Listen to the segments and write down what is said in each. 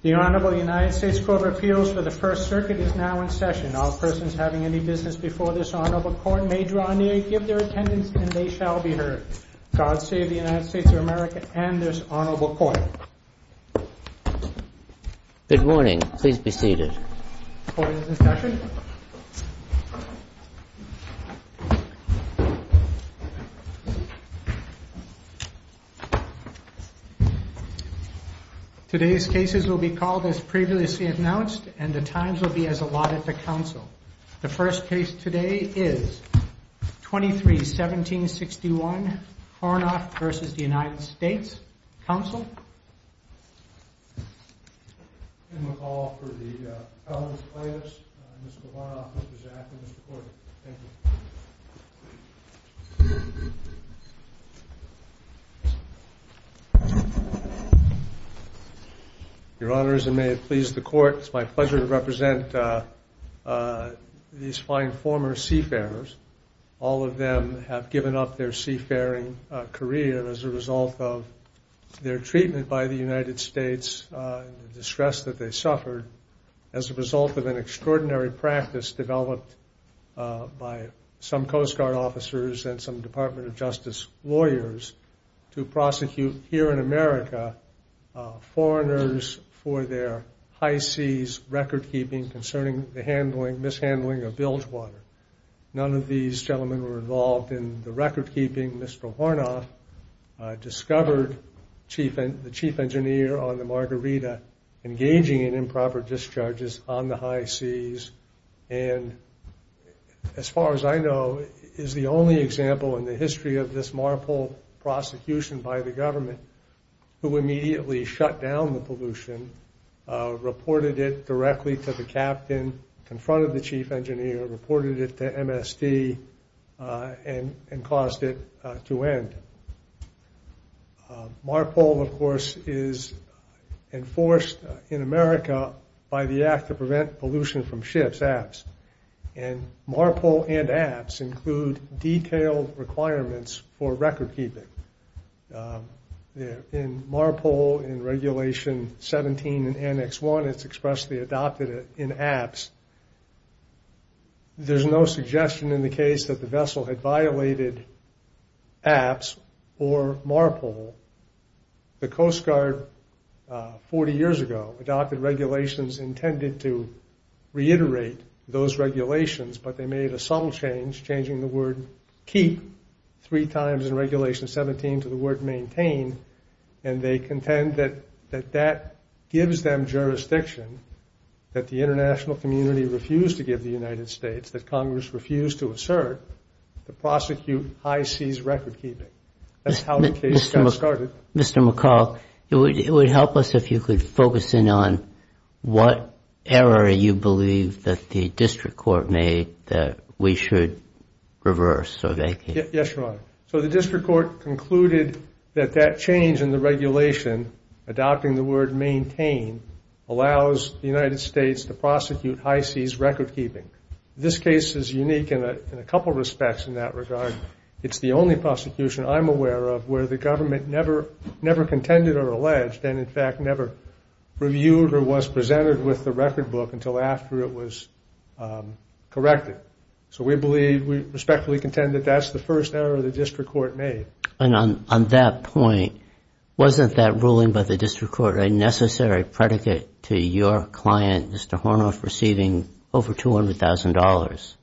The Honorable United States Court of Appeals for the First Circuit is now in session. All persons having any business before this Honorable Court may draw near, give their attendance, and they shall be heard. God save the United States of America and this Honorable Court. Good morning. Please be seated. Court is in session. Today's cases will be called as previously announced, and the times will be as allotted to counsel. The first case today is 23-1761, Hornof v. United States. Counsel? Your Honors, and may it please the Court, it's my pleasure to represent these fine former seafarers. All of them have given up their seafaring career as a result of their treatment by the United States and the distress that they suffered, as a result of an extraordinary practice developed by some Coast Guard officers and some Department of Justice lawyers to prosecute, here in America, foreigners for their high seas record-keeping concerning the handling, mishandling of bilge water. None of these gentlemen were involved in the record-keeping. Mr. Hornof discovered the chief engineer on the Margarita engaging in improper discharges on the high seas, and as far as I know, is the only example in the history of this marvel prosecution by the government, who immediately shut down the pollution, reported it directly to the captain, confronted the chief engineer, reported it to MSD, and caused it to end. MARPOL, of course, is enforced in America by the Act to Prevent Pollution from Ships, APPS, and MARPOL and APPS include detailed requirements for record-keeping. In MARPOL, in Regulation 17 in Annex 1, it's expressly adopted in APPS. There's no suggestion in the case that the vessel had violated APPS or MARPOL. The Coast Guard, 40 years ago, adopted regulations intended to reiterate those regulations, but they made a subtle change, changing the word keep three times in Regulation 17 to the word maintain, and they contend that that gives them jurisdiction that the international community refused to give the United States, that Congress refused to assert, to prosecute high seas record-keeping. That's how the case got started. Mr. McCall, it would help us if you could focus in on what error you believe that the district court made that we should reverse or vacate. Yes, Your Honor. So the district court concluded that that change in the regulation, adopting the word maintain, allows the United States to prosecute high seas record-keeping. This case is unique in a couple respects in that regard. It's the only prosecution I'm aware of where the government never contended or alleged, and in fact, never reviewed or was presented with the record book until after it was corrected. So we believe, we respectfully contend that that's the first error the district court made. And on that point, wasn't that ruling by the district court a necessary predicate to your client, Mr. Hornoff, receiving over $200,000?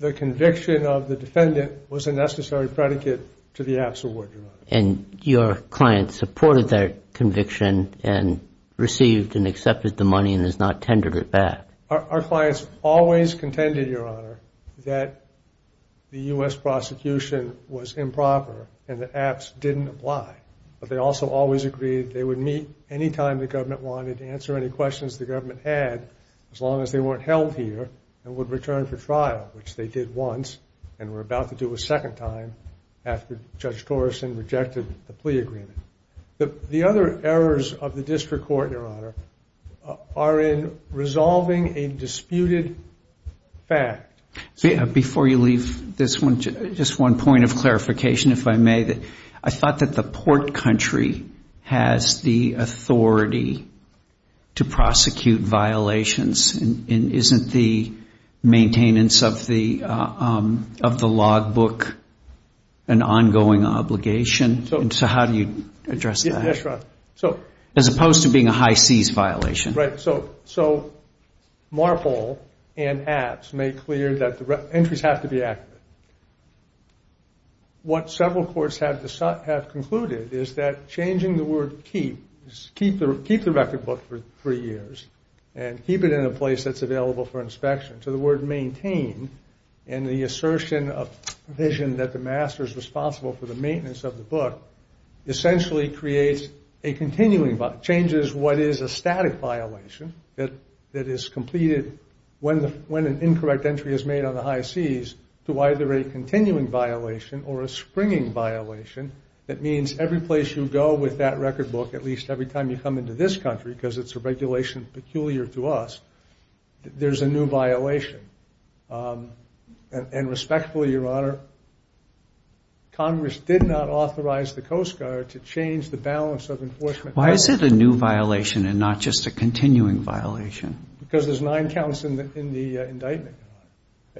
The conviction of the defendant was a necessary predicate to the APPS award, Your Honor. And your client supported that conviction and received and accepted the money and has not tendered it back. Our clients always contended, Your Honor, that the U.S. prosecution was improper and the APPS didn't apply. But they also always agreed they would meet any time the government wanted, answer any questions the government had, as long as they weren't held here, and would return for trial, which they did once and were about to do a second time after Judge Torreson rejected the plea agreement. The other errors of the district court, Your Honor, are in resolving a disputed fact. Before you leave this one, just one point of clarification, if I may. I thought that the port country has the authority to prosecute violations, and isn't the maintenance of the log book an ongoing obligation? So how do you address that? Yes, Your Honor. So as opposed to being a high-seize violation. Right. So Marple and APPS made clear that the entries have to be accurate. What several courts have concluded is that changing the word keep, keep the record book for three years, and keep it in a place that's available for inspection, to the word maintain, and the assertion of vision that the master is responsible for the maintenance of the book, essentially creates a continuing violation, changes what is a static violation that is completed when an incorrect entry is made on the high-seize to either a continuing violation or a springing violation. That means every place you go with that record book, at least every time you come into this country, because it's a regulation peculiar to us, there's a new violation. And respectfully, Your Honor, Congress did not authorize the Coast Guard to change the balance of enforcement. Why is it a new violation and not just a continuing violation? Because there's nine counts in the indictment.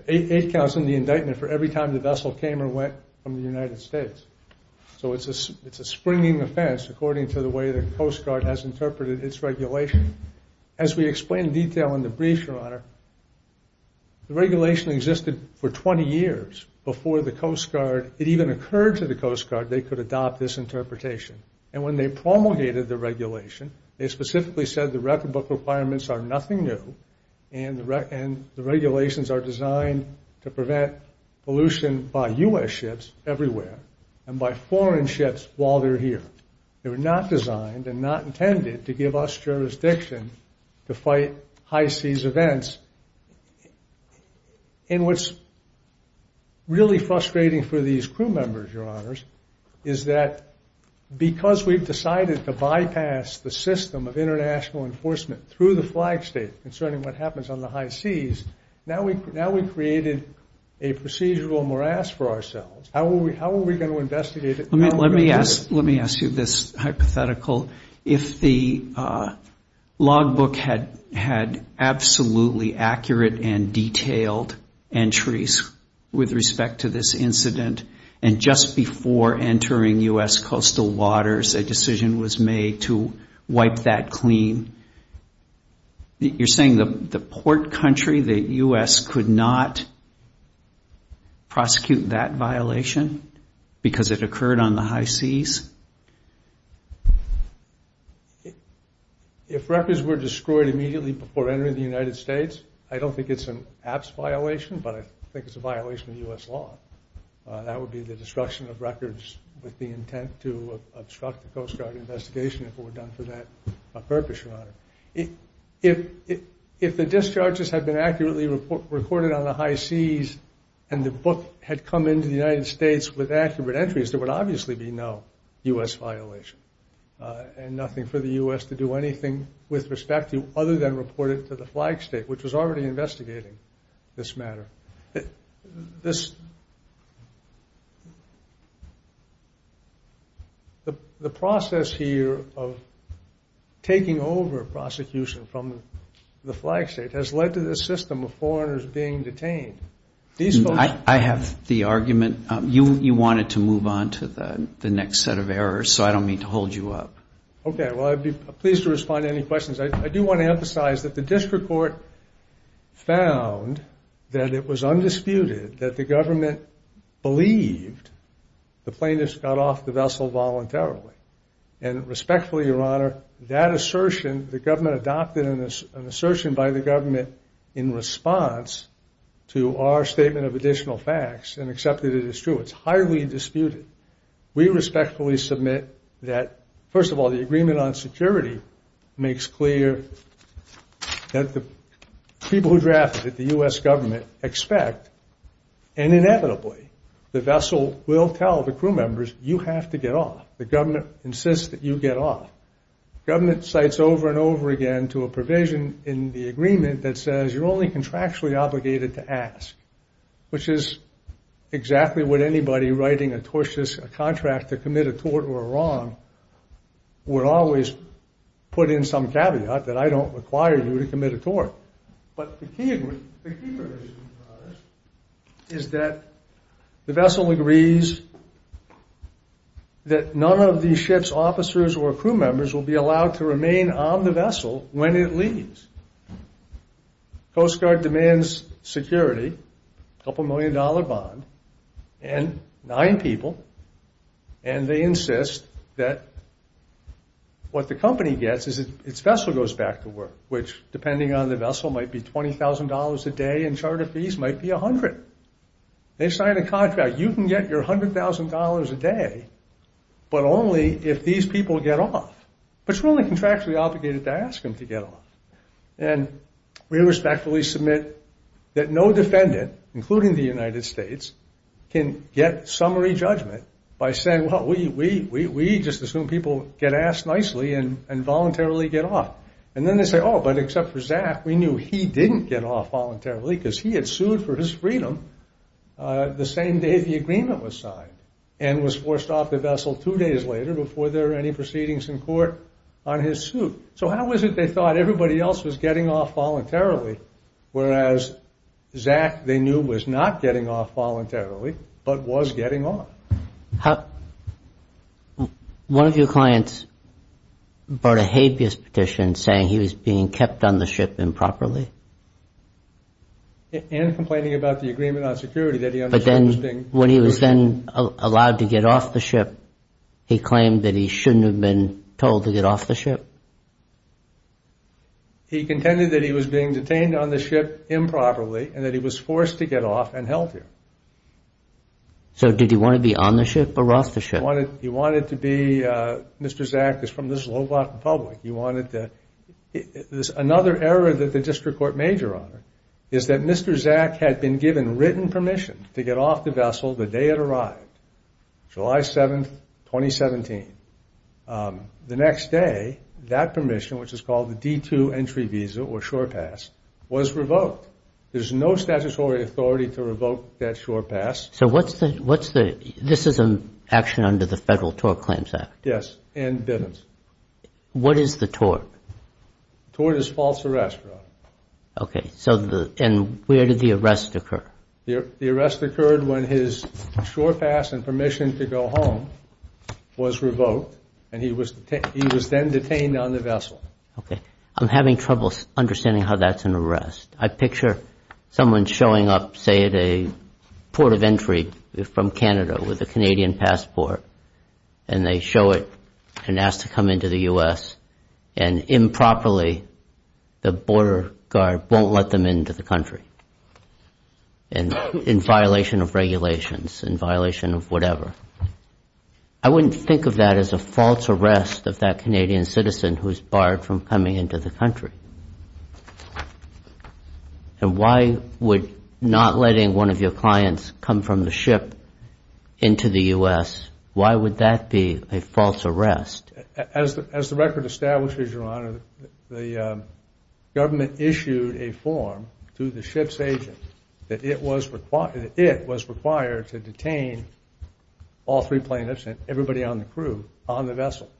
Eight counts in the indictment for every time the vessel came or went from the United States. So it's a springing offense according to the way the Coast Guard has interpreted its regulation. As we explain in detail in the brief, Your Honor, the regulation existed for 20 years before the Coast Guard, it even occurred to the Coast Guard they could adopt this interpretation. And when they promulgated the regulation, they specifically said the record book requirements are nothing new, and the regulations are designed to prevent pollution by U.S. ships everywhere, and by foreign ships while they're here. They were not designed and not intended to give us jurisdiction to fight high seas events. And what's really frustrating for these crew members, Your Honors, is that because we've decided to bypass the system of international enforcement through the flag state concerning what happens on the high seas, now we created a procedural morass for ourselves. How are we going to investigate it? Let me ask you this hypothetical. If the logbook had absolutely accurate and detailed entries with respect to this incident, and just before entering U.S. coastal waters, a decision was made to wipe that clean, you're saying the port country, the U.S., could not prosecute that violation because it occurred on the high seas? If records were destroyed immediately before entering the United States, I don't think it's an ABS violation, but I think it's a violation of U.S. law. That would be the destruction of records with the intent to obstruct the Coast Guard investigation if it were done for that purpose, Your Honor. If the discharges had been accurately recorded on the high seas, and the book had come into the United States with accurate entries, there would obviously be no U.S. violation, and nothing for the U.S. to do anything with respect to other than report it to the flag state, which was already investigating this matter. The process here of taking over prosecution from the flag state has led to this system of foreigners being detained. I have the argument you wanted to move on to the next set of errors, so I don't mean to hold you up. Okay. Well, I'd be pleased to respond to any questions. I do want to emphasize that the district court found that it was undisputed that the government believed the plaintiffs got off the vessel voluntarily. And respectfully, Your Honor, that assertion, the government adopted an assertion by the government in response to our statement of additional facts and accepted it as true. It's highly disputed. We respectfully submit that, first of all, the agreement on security makes clear that the people who drafted it, the U.S. government, expect, and inevitably, the vessel will tell the crew members, you have to get off. The government insists that you get off. Government cites over and over again to a provision in the agreement that says you're only contractually obligated to ask, which is exactly what anybody writing a tortious contract to commit a tort or a wrong would always put in some caveat that I don't require you to commit a tort. But the key provision, Your Honor, is that the vessel agrees that none of the ship's officers or crew members will be allowed to remain on the vessel when it leaves. Coast Guard demands security, a couple million dollar bond, and nine people, and they insist that what the company gets is its vessel goes back to work, which, depending on the vessel, might be $20,000 a day and charter fees might be $100. They sign a contract, you can get your $100,000 a day, but only if these people get off. But you're only contractually obligated to ask them to get off. And we respectfully submit that no defendant, including the United States, can get summary judgment by saying, well, we just assume people get asked nicely and voluntarily get off. And then they say, oh, but except for Zach, we knew he didn't get off voluntarily because he had sued for his freedom the same day the agreement was signed and was forced off the vessel two days later before there were any proceedings in court on his suit. So how is it they thought everybody else was getting off voluntarily, whereas Zach, they knew, was not getting off voluntarily, but was getting off? One of your clients brought a habeas petition saying he was being kept on the ship improperly. And complaining about the agreement on security. But then when he was then allowed to get off the ship, he claimed that he shouldn't have been told to get off the ship. He contended that he was being detained on the ship improperly and that he was forced to get off and held here. So did he want to be on the ship or off the ship? He wanted to be, Mr. Zach is from the Slovak Republic, he wanted to, there's another error that the district court made, Your Honor, is that Mr. Zach had been given written permission to get off the vessel the day it arrived, July 7th, 2017. The next day, that permission, which is called the D2 entry visa or shore pass, was revoked. There's no statutory authority to revoke that shore pass. So what's the, what's the, this is an action under the Federal Tort Claims Act. Yes, and Bivens. What is the tort? Tort is false arrest, Your Honor. Okay, so the, and where did the arrest occur? The arrest occurred when his shore pass and permission to go home was revoked and he was then detained on the vessel. Okay, I'm having trouble understanding how that's an arrest. I picture someone showing up, say at a port of entry from Canada with a Canadian passport and they show it and ask to come into the U.S. and improperly, the border guard won't let them into the country and in violation of regulations, in violation of whatever. I wouldn't think of that as a false arrest of that Canadian citizen who's barred from coming into the country. And why would not letting one of your clients come from the ship into the U.S., why would that be a false arrest? As the record establishes, Your Honor, the government issued a form to the ship's agent that it was required to detain all three plaintiffs and everybody on the crew on the vessel.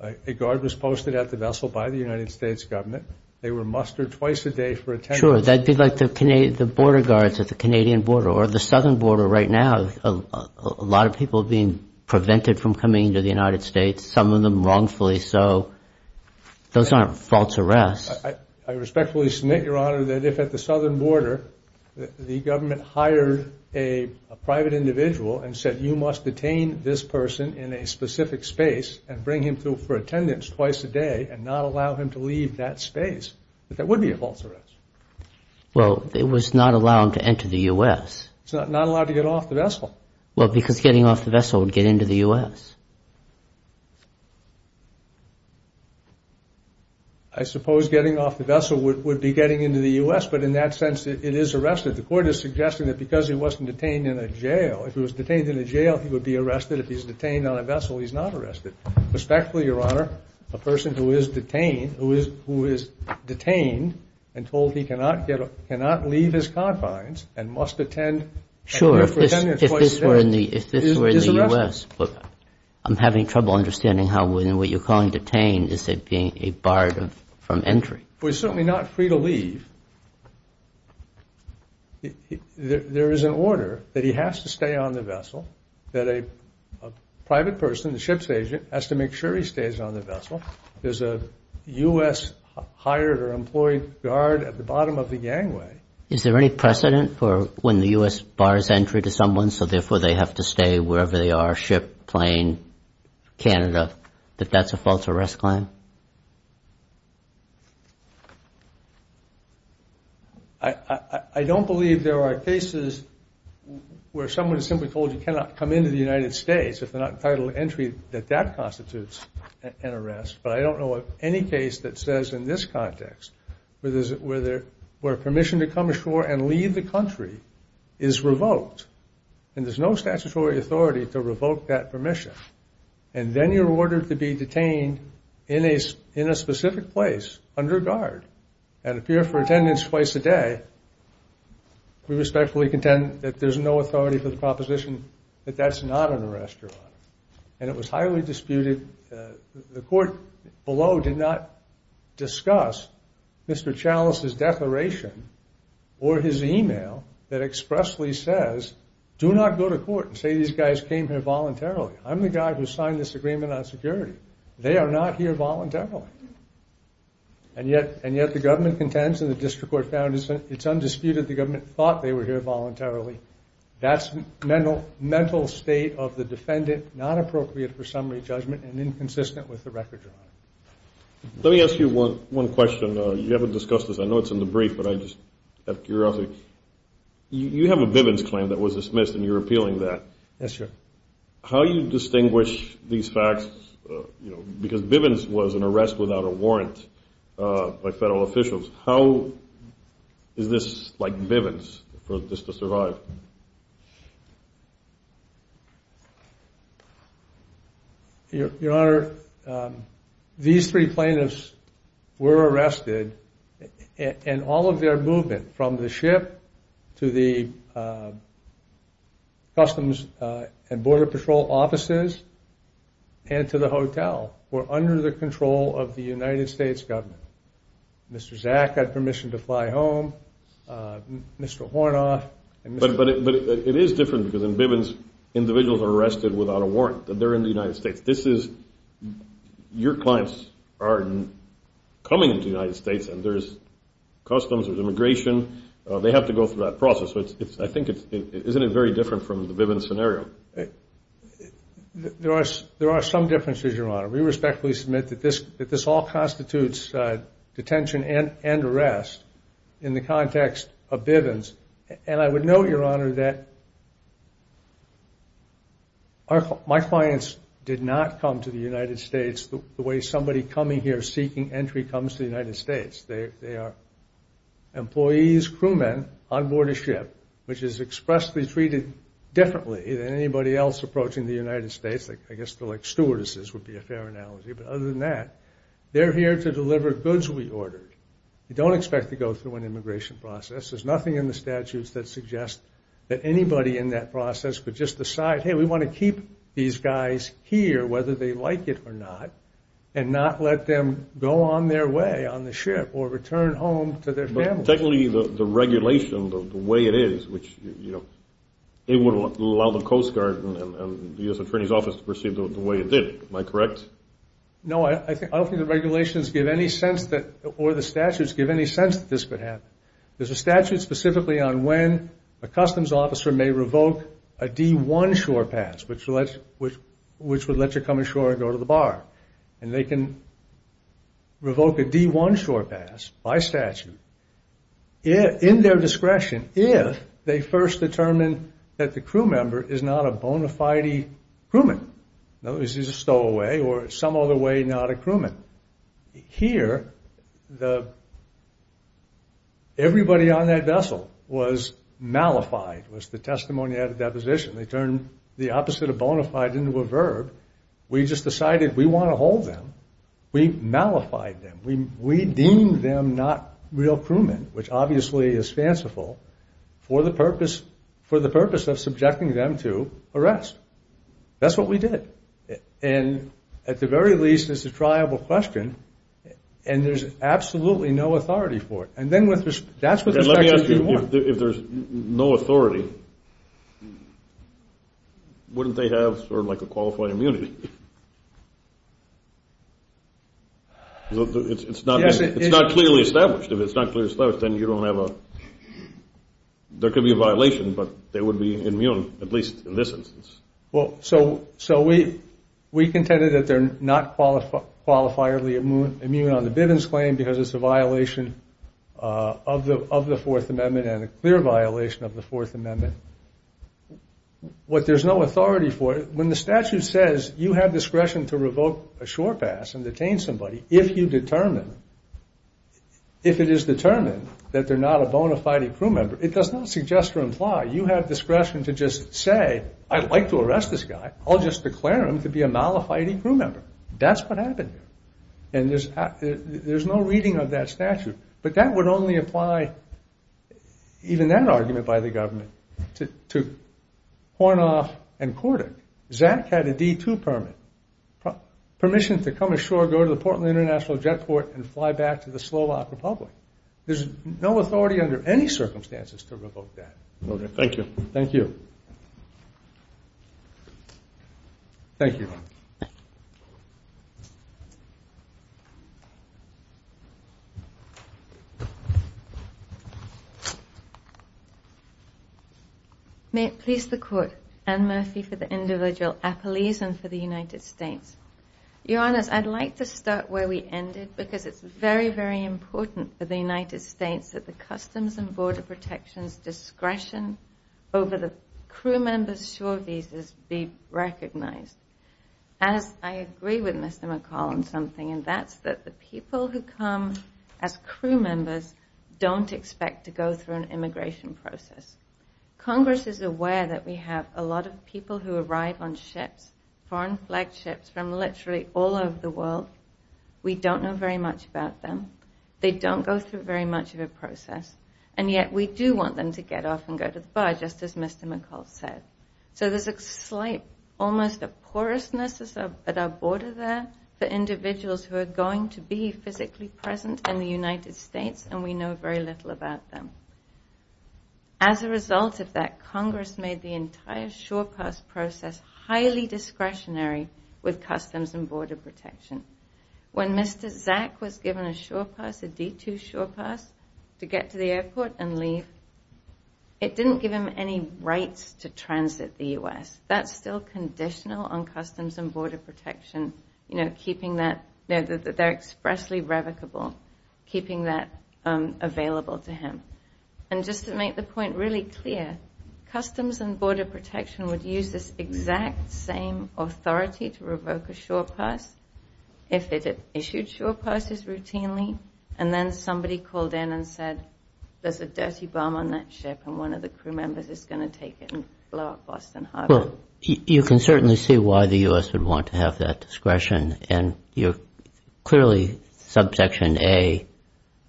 A guard was posted at the vessel by the United States government. They were mustered twice a day for attendance. Sure, that'd be like the Canadian, the border guards at the Canadian border or the southern border right now. A lot of people being prevented from coming into the United States, some of them wrongfully so. Those aren't false arrests. I respectfully submit, Your Honor, that if at the southern border, the government hired a private individual and said you must detain this person in a specific space and bring him through for attendance twice a day and not allow him to leave that space, that that would be a false arrest. Well, it was not allowed to enter the U.S. It's not allowed to get off the vessel. Well, because getting off the vessel would get into the U.S. I suppose getting off the vessel would be getting into the U.S. But in that sense, it is arrested. The court is suggesting that because he wasn't detained in a jail, if he was detained in a jail, he would be arrested. If he's detained on a vessel, he's not arrested. Respectfully, Your Honor, a person who is detained and told he cannot leave his confines and must attend. Sure, if this were in the U.S., I'm having trouble understanding how when you're calling detained, is it being a barred from entry? We're certainly not free to leave. There is an order that he has to stay on the vessel, that a private person, the ship's agent, has to make sure he stays on the vessel. There's a U.S. hired or employed guard at the bottom of the gangway. Is there any precedent for when the U.S. bars entry to someone, so therefore they have to stay wherever they are, ship, plane, Canada, that that's a false arrest claim? I don't believe there are cases where someone is simply told you cannot come into the United States if they're not entitled to entry, that that constitutes an arrest. But I don't know of any case that says in this context, where permission to come ashore and leave the country is revoked, and there's no statutory authority to revoke that permission. And then you're ordered to be detained in a specific place under guard and appear for attendance twice a day. We respectfully contend that there's no authority for the proposition that that's not an arrest. And it was highly disputed. The court below did not discuss Mr. Chalice's declaration or his email that expressly says, do not go to court and say these guys came here voluntarily. I'm the guy who signed this agreement on security. They are not here voluntarily. And yet the government contends, and the district court found, it's undisputed the government thought they were here voluntarily. That's mental state of the defendant, not appropriate for summary judgment and inconsistent with the record drawing. Let me ask you one question. You haven't discussed this. I know it's in the brief, but I just have curiosity. You have a Bivens claim that was dismissed, and you're appealing that. Yes, sir. How do you distinguish these facts? Because Bivens was an arrest without a warrant by federal officials. How is this like Bivens for this to survive? Your Honor, these three plaintiffs were arrested. And all of their movement from the ship to the Customs and Border Patrol offices and to the hotel were under the control of the United States government. Mr. Zack had permission to fly home. Mr. Hornoff. But it is different because in Bivens, individuals are arrested without a warrant. They're in the United States. This is, your clients are coming into the United States and there's customs, there's immigration. They have to go through that process. I think it's, isn't it very different from the Bivens scenario? There are some differences, your Honor. We respectfully submit that this all constitutes detention and arrest in the context of Bivens. And I would note, your Honor, that my clients did not come to the United States the way somebody coming here seeking entry comes to the United States. They are employees, crewmen on board a ship, which is expressly treated differently than anybody else approaching the United States. I guess they're like stewardesses would be a fair analogy. But other than that, they're here to deliver goods we ordered. You don't expect to go through an immigration process. There's nothing in the statutes that suggest that anybody in that process could just decide, hey, we want to keep these guys here whether they like it or not and not let them go on their way on the ship or return home to their families. But technically, the regulation, the way it is, which, you know, it would allow the Coast Guard and the U.S. Attorney's Office to proceed the way it did, am I correct? No, I don't think the regulations give any sense that, or the statutes give any sense that this could happen. There's a statute specifically on when a customs officer may revoke a D1 shore pass, which would let you come ashore and go to the bar. And they can revoke a D1 shore pass by statute in their discretion if they first determine that the crew member is not a bona fide crewman. In other words, he's a stowaway or some other way, not a crewman. Here, everybody on that vessel was malified, was the testimony at a deposition. They turned the opposite of bona fide into a verb. We just decided we want to hold them. We malified them. We deemed them not real crewmen, which obviously is fanciful, for the purpose of subjecting them to arrest. That's what we did. And at the very least, it's a triable question. And there's absolutely no authority for it. And then that's what the sections do more. If there's no authority, wouldn't they have sort of like a qualified immunity? It's not clearly established. If it's not clearly established, then you don't have a... There could be a violation, but they would be immune, at least in this instance. Well, so we contended that they're not qualifiably immune on the Bivens claim because it's a violation of the Fourth Amendment and a clear violation of the Fourth Amendment. What there's no authority for, when the statute says you have discretion to revoke a shore pass and detain somebody if you determine, if it is determined that they're not a bona fide crew member, it does not suggest or imply you have discretion to just say, I'd like to arrest this guy. I'll just declare him to be a malified crew member. That's what happened here. And there's no reading of that statute. But that would only apply, even that argument by the government, to Hornoff and Cordick. Zach had a D2 permit, permission to come ashore, go to the Portland International Jetport and fly back to the Slovak Republic. There's no authority under any circumstances to revoke that. Okay, thank you. Thank you. Thank you. May it please the court, Anne Murphy for the individual appellees and for the United States. Your Honors, I'd like to start where we ended because it's very, very important for the United States that the Customs and Border Protection's discretion over the crew members' shore visas be recognized. As I agree with Mr. McCall on something, and that's that the people who come as crew members don't expect to go through an immigration process. Congress is aware that we have a lot of people who arrive on ships, foreign flag ships, from literally all over the world. We don't know very much about them. They don't go through very much of a process. And yet we do want them to get off and go to the bar, just as Mr. McCall said. So there's a slight, almost a porousness at our border there for individuals who are going to be physically present in the United States, and we know very little about them. As a result of that, Congress made the entire shore pass process highly discretionary with Customs and Border Protection. When Mr. Zack was given a shore pass, a D2 shore pass, to get to the airport and leave, it didn't give him any rights to transit the U.S. That's still conditional on Customs and Border Protection, you know, keeping that, they're expressly revocable, keeping that available to him. And just to make the point really clear, Customs and Border Protection would use this exact same authority to revoke a shore pass if it issued shore passes routinely. And then somebody called in and said, there's a dirty bomb on that ship and one of the crew members is going to take it and blow up Boston Harbor. Well, you can certainly see why the U.S. would want to have that discretion. And you're clearly subsection A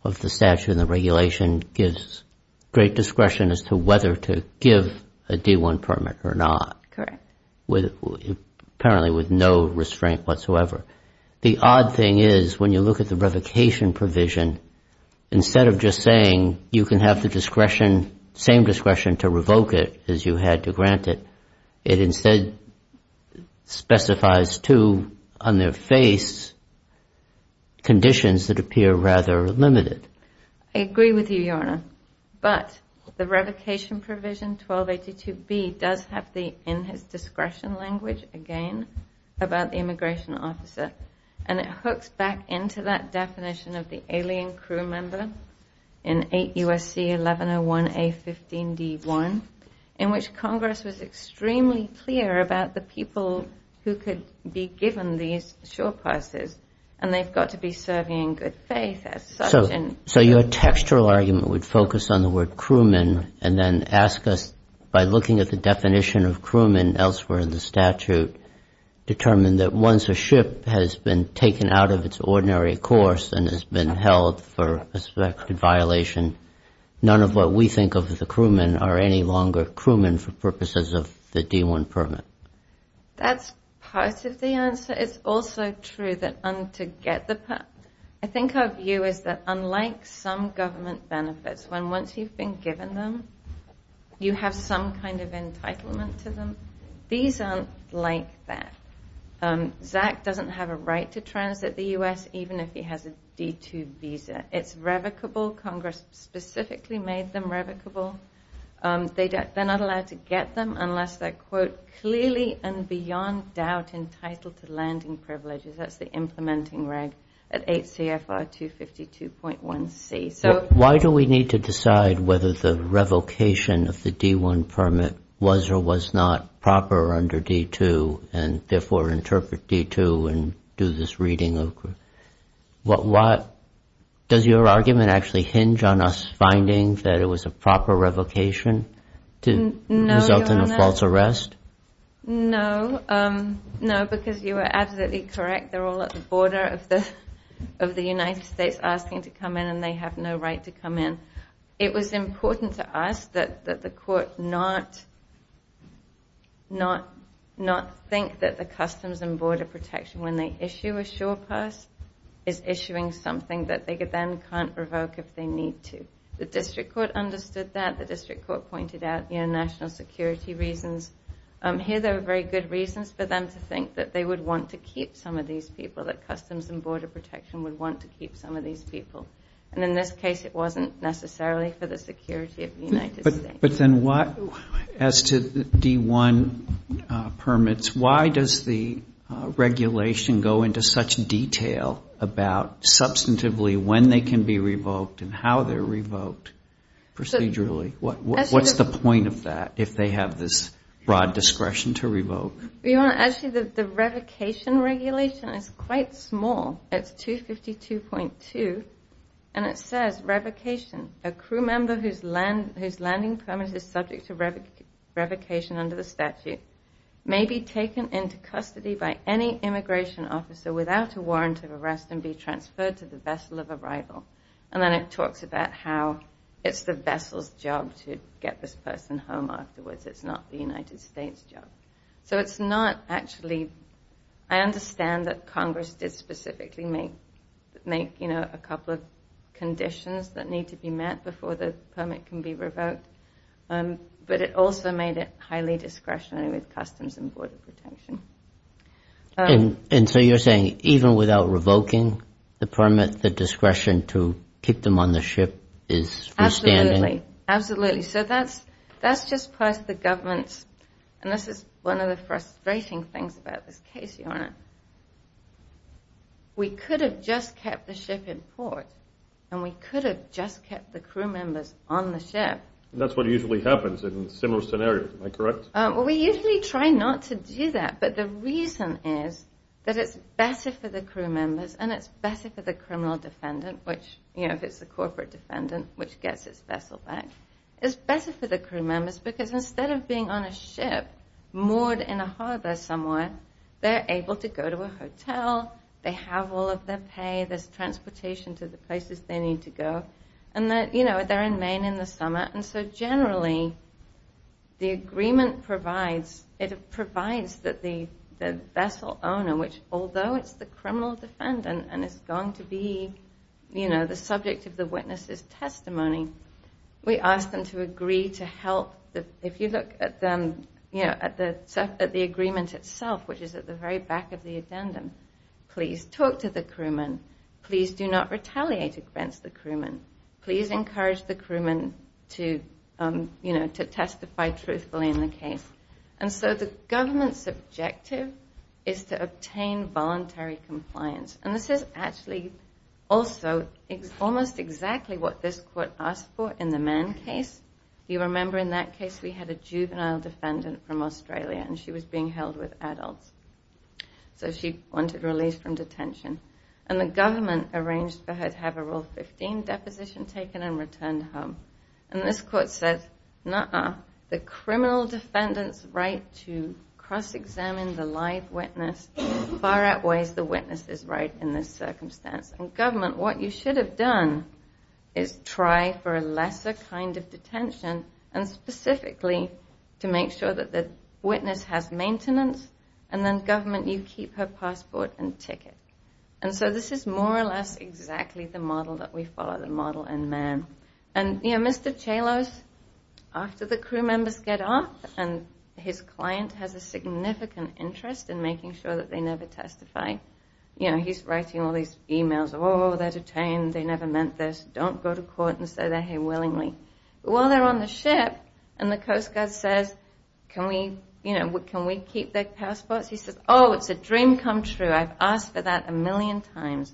of the statute and the regulation gives great discretion as to whether to give a D1 permit or not. Correct. Apparently with no restraint whatsoever. The odd thing is when you look at the revocation provision, instead of just saying you can have the discretion, same discretion to revoke it as you had to grant it, it instead specifies two, on their face, conditions that appear rather limited. I agree with you, Your Honor. But the revocation provision 1282B does have the in his discretion language again about the immigration officer and it hooks back into that definition of the alien crew member in 8 U.S.C. 1101A15D1 in which Congress was extremely clear about the people who could be given these shore passes and they've got to be serving in good faith. So your textural argument would focus on the word crewman and then ask us by looking at the definition of crewman elsewhere in the statute, determine that once a ship has been taken out of its ordinary course and has been held for suspected violation, none of what we think of the crewman are any longer crewman for purposes of the D1 permit. That's part of the answer. It's also true that to get the permit, I think our view is that unlike some government benefits when once you've been given them, you have some kind of entitlement to them. These aren't like that. Zach doesn't have a right to transit the U.S. even if he has a D2 visa. It's revocable. Congress specifically made them revocable. They're not allowed to get them unless they're, quote, clearly and beyond doubt entitled to landing privileges. That's the implementing reg at 8 CFR 252.1C. Why do we need to decide whether the revocation of the D1 permit was or was not proper under D2 and therefore interpret D2 and do this reading? Does your argument actually hinge on us finding that it was a proper revocation to result in a false arrest? No, because you are absolutely correct. They're all at the border of the United States asking to come in and they have no right to come in. It was important to us that the court not think that the Customs and Border Protection when they issue a sure pass is issuing something that they then can't revoke if they need to. The district court understood that. The district court pointed out national security reasons. Here there were very good reasons for them to think that they would want to keep some of these people, that Customs and Border Protection would want to keep some of these people. And in this case, it wasn't necessarily for the security of the United States. But then what as to the D1 permits, why does the regulation go into such detail about substantively when they can be revoked and how they're revoked procedurally? What's the point of that if they have this broad discretion to revoke? Actually, the revocation regulation is quite small. It's 252.2 and it says revocation. A crew member whose landing permit is subject to revocation under the statute may be taken into custody by any immigration officer without a warrant of arrest and be transferred to the vessel of arrival. And then it talks about how it's the vessel's job to get this person home afterwards. It's not the United States' job. So it's not actually... I understand that Congress did specifically make a couple of conditions that need to be met before the permit can be revoked. But it also made it highly discretionary with Customs and Border Protection. And so you're saying even without revoking the permit, the discretion to keep them on the ship is freestanding? Absolutely. So that's just part of the government's... And this is one of the frustrating things about this case, Your Honor. We could have just kept the ship in port and we could have just kept the crew members on the ship. And that's what usually happens in similar scenarios, am I correct? Well, we usually try not to do that. But the reason is that it's better for the crew members and it's better for the criminal defendant, which if it's a corporate defendant, which gets its vessel back, it's better for the crew members because instead of being on a ship moored in a harbor somewhere, they're able to go to a hotel. They have all of their pay. There's transportation to the places they need to go. And they're in Maine in the summer. And so generally, the agreement provides... It provides that the vessel owner, although it's the criminal defendant and it's going to be the subject of the witness's testimony, we ask them to agree to help. If you look at the agreement itself, which is at the very back of the addendum, please talk to the crewman. Please do not retaliate against the crewman. Please encourage the crewman to testify truthfully in the case. And so the government's objective is to obtain voluntary compliance. And this is actually also almost exactly what this court asked for in the Mann case. You remember in that case, we had a juvenile defendant from Australia and she was being held with adults. So she wanted release from detention. And the government arranged for her to have a Rule 15 deposition taken and returned home. And this court said, nah, the criminal defendant's right to cross-examine the live witness. Far outweighs the witness's right in this circumstance. And government, what you should have done is try for a lesser kind of detention and specifically to make sure that the witness has maintenance. And then government, you keep her passport and ticket. And so this is more or less exactly the model that we follow, the model in Mann. And Mr. Chalos, after the crew members get off and his client has a significant interest in making sure that they never testify. You know, he's writing all these emails. Oh, they're detained. They never meant this. Don't go to court and say they're here willingly. While they're on the ship and the Coast Guard says, can we, you know, can we keep their passports? He says, oh, it's a dream come true. I've asked for that a million times.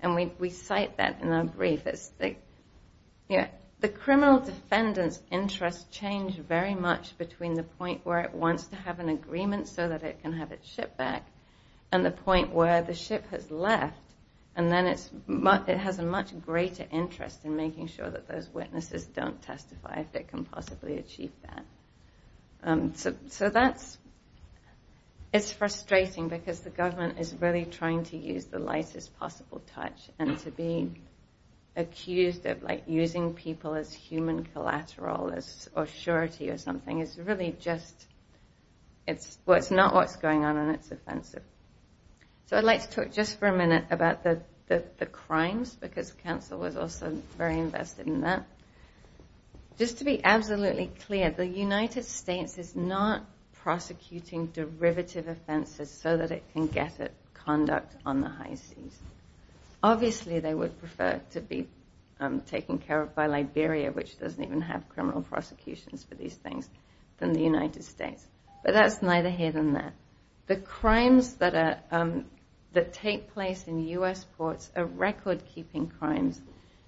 And we cite that in our brief. It's the, you know, the criminal defendant's interest change very much between the point where it wants to have an agreement so that it can have its ship back and the point where the ship has left. And then it has a much greater interest in making sure that those witnesses don't testify if they can possibly achieve that. So that's, it's frustrating because the government is really trying to use the lightest possible touch and to be accused of like using people as human collateral or surety or something is really just, it's what's not what's going on and it's offensive. So I'd like to talk just for a minute about the crimes because counsel was also very invested in that. Just to be absolutely clear, the United States is not prosecuting derivative offenses so that it can get it conduct on the high seas. Obviously, they would prefer to be taken care of by Liberia which doesn't even have criminal prosecutions for these things than the United States. But that's neither here than there. The crimes that are, that take place in U.S. ports are record-keeping crimes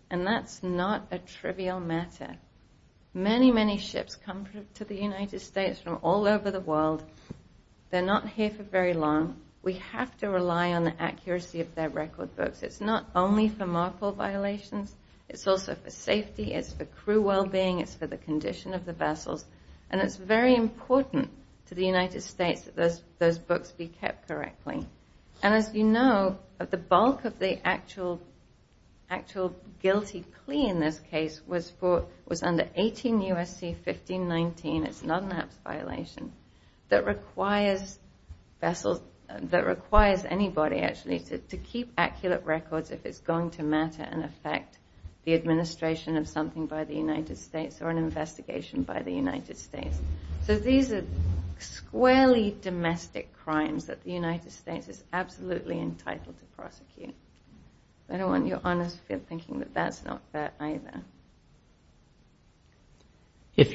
and that's not a trivial matter. Many, many ships come to the United States from all over the world. They're not here for very long. We have to rely on the accuracy of their record books. It's not only for marple violations, it's also for safety, it's for crew well-being, it's for the condition of the vessels and it's very important to the United States that those books be kept correctly. And as you know, the bulk of the actual guilty plea in this case was under 18 U.S.C. 1519. It's not a marple violation. That requires vessels, that requires anybody actually to keep accurate records if it's going to matter and affect the administration of something by the United States or an investigation by the United States. So these are squarely domestic crimes that the United States is absolutely entitled to prosecute. I don't want your Honours to feel thinking that that's not fair either. If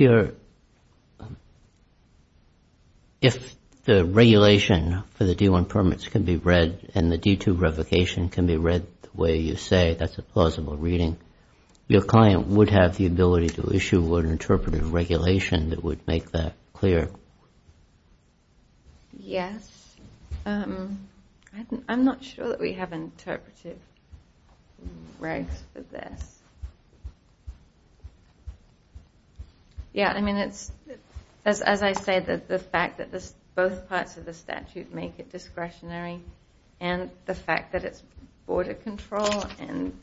the regulation for the D1 permits can be read and the D2 revocation can be read the way you say, that's a plausible reading, your client would have the ability to issue an interpretive regulation that would make that clear. Yes, I'm not sure that we have interpretive regs for this. Yeah, I mean, as I said, the fact that both parts of the statute make it discretionary and the fact that it's border control and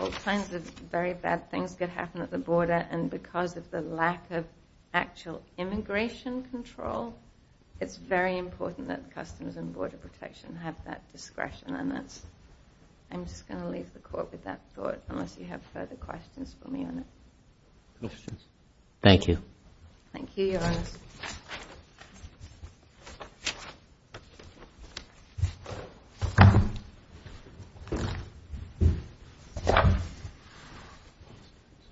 all kinds of very bad things could happen at the border and because of the lack of actual immigration control, it's very important that Customs and Border Protection have that discretion. I'm just going to leave the Court with that thought unless you have further questions for me on it. Questions? Thank you. Thank you, your Honours. Thank you.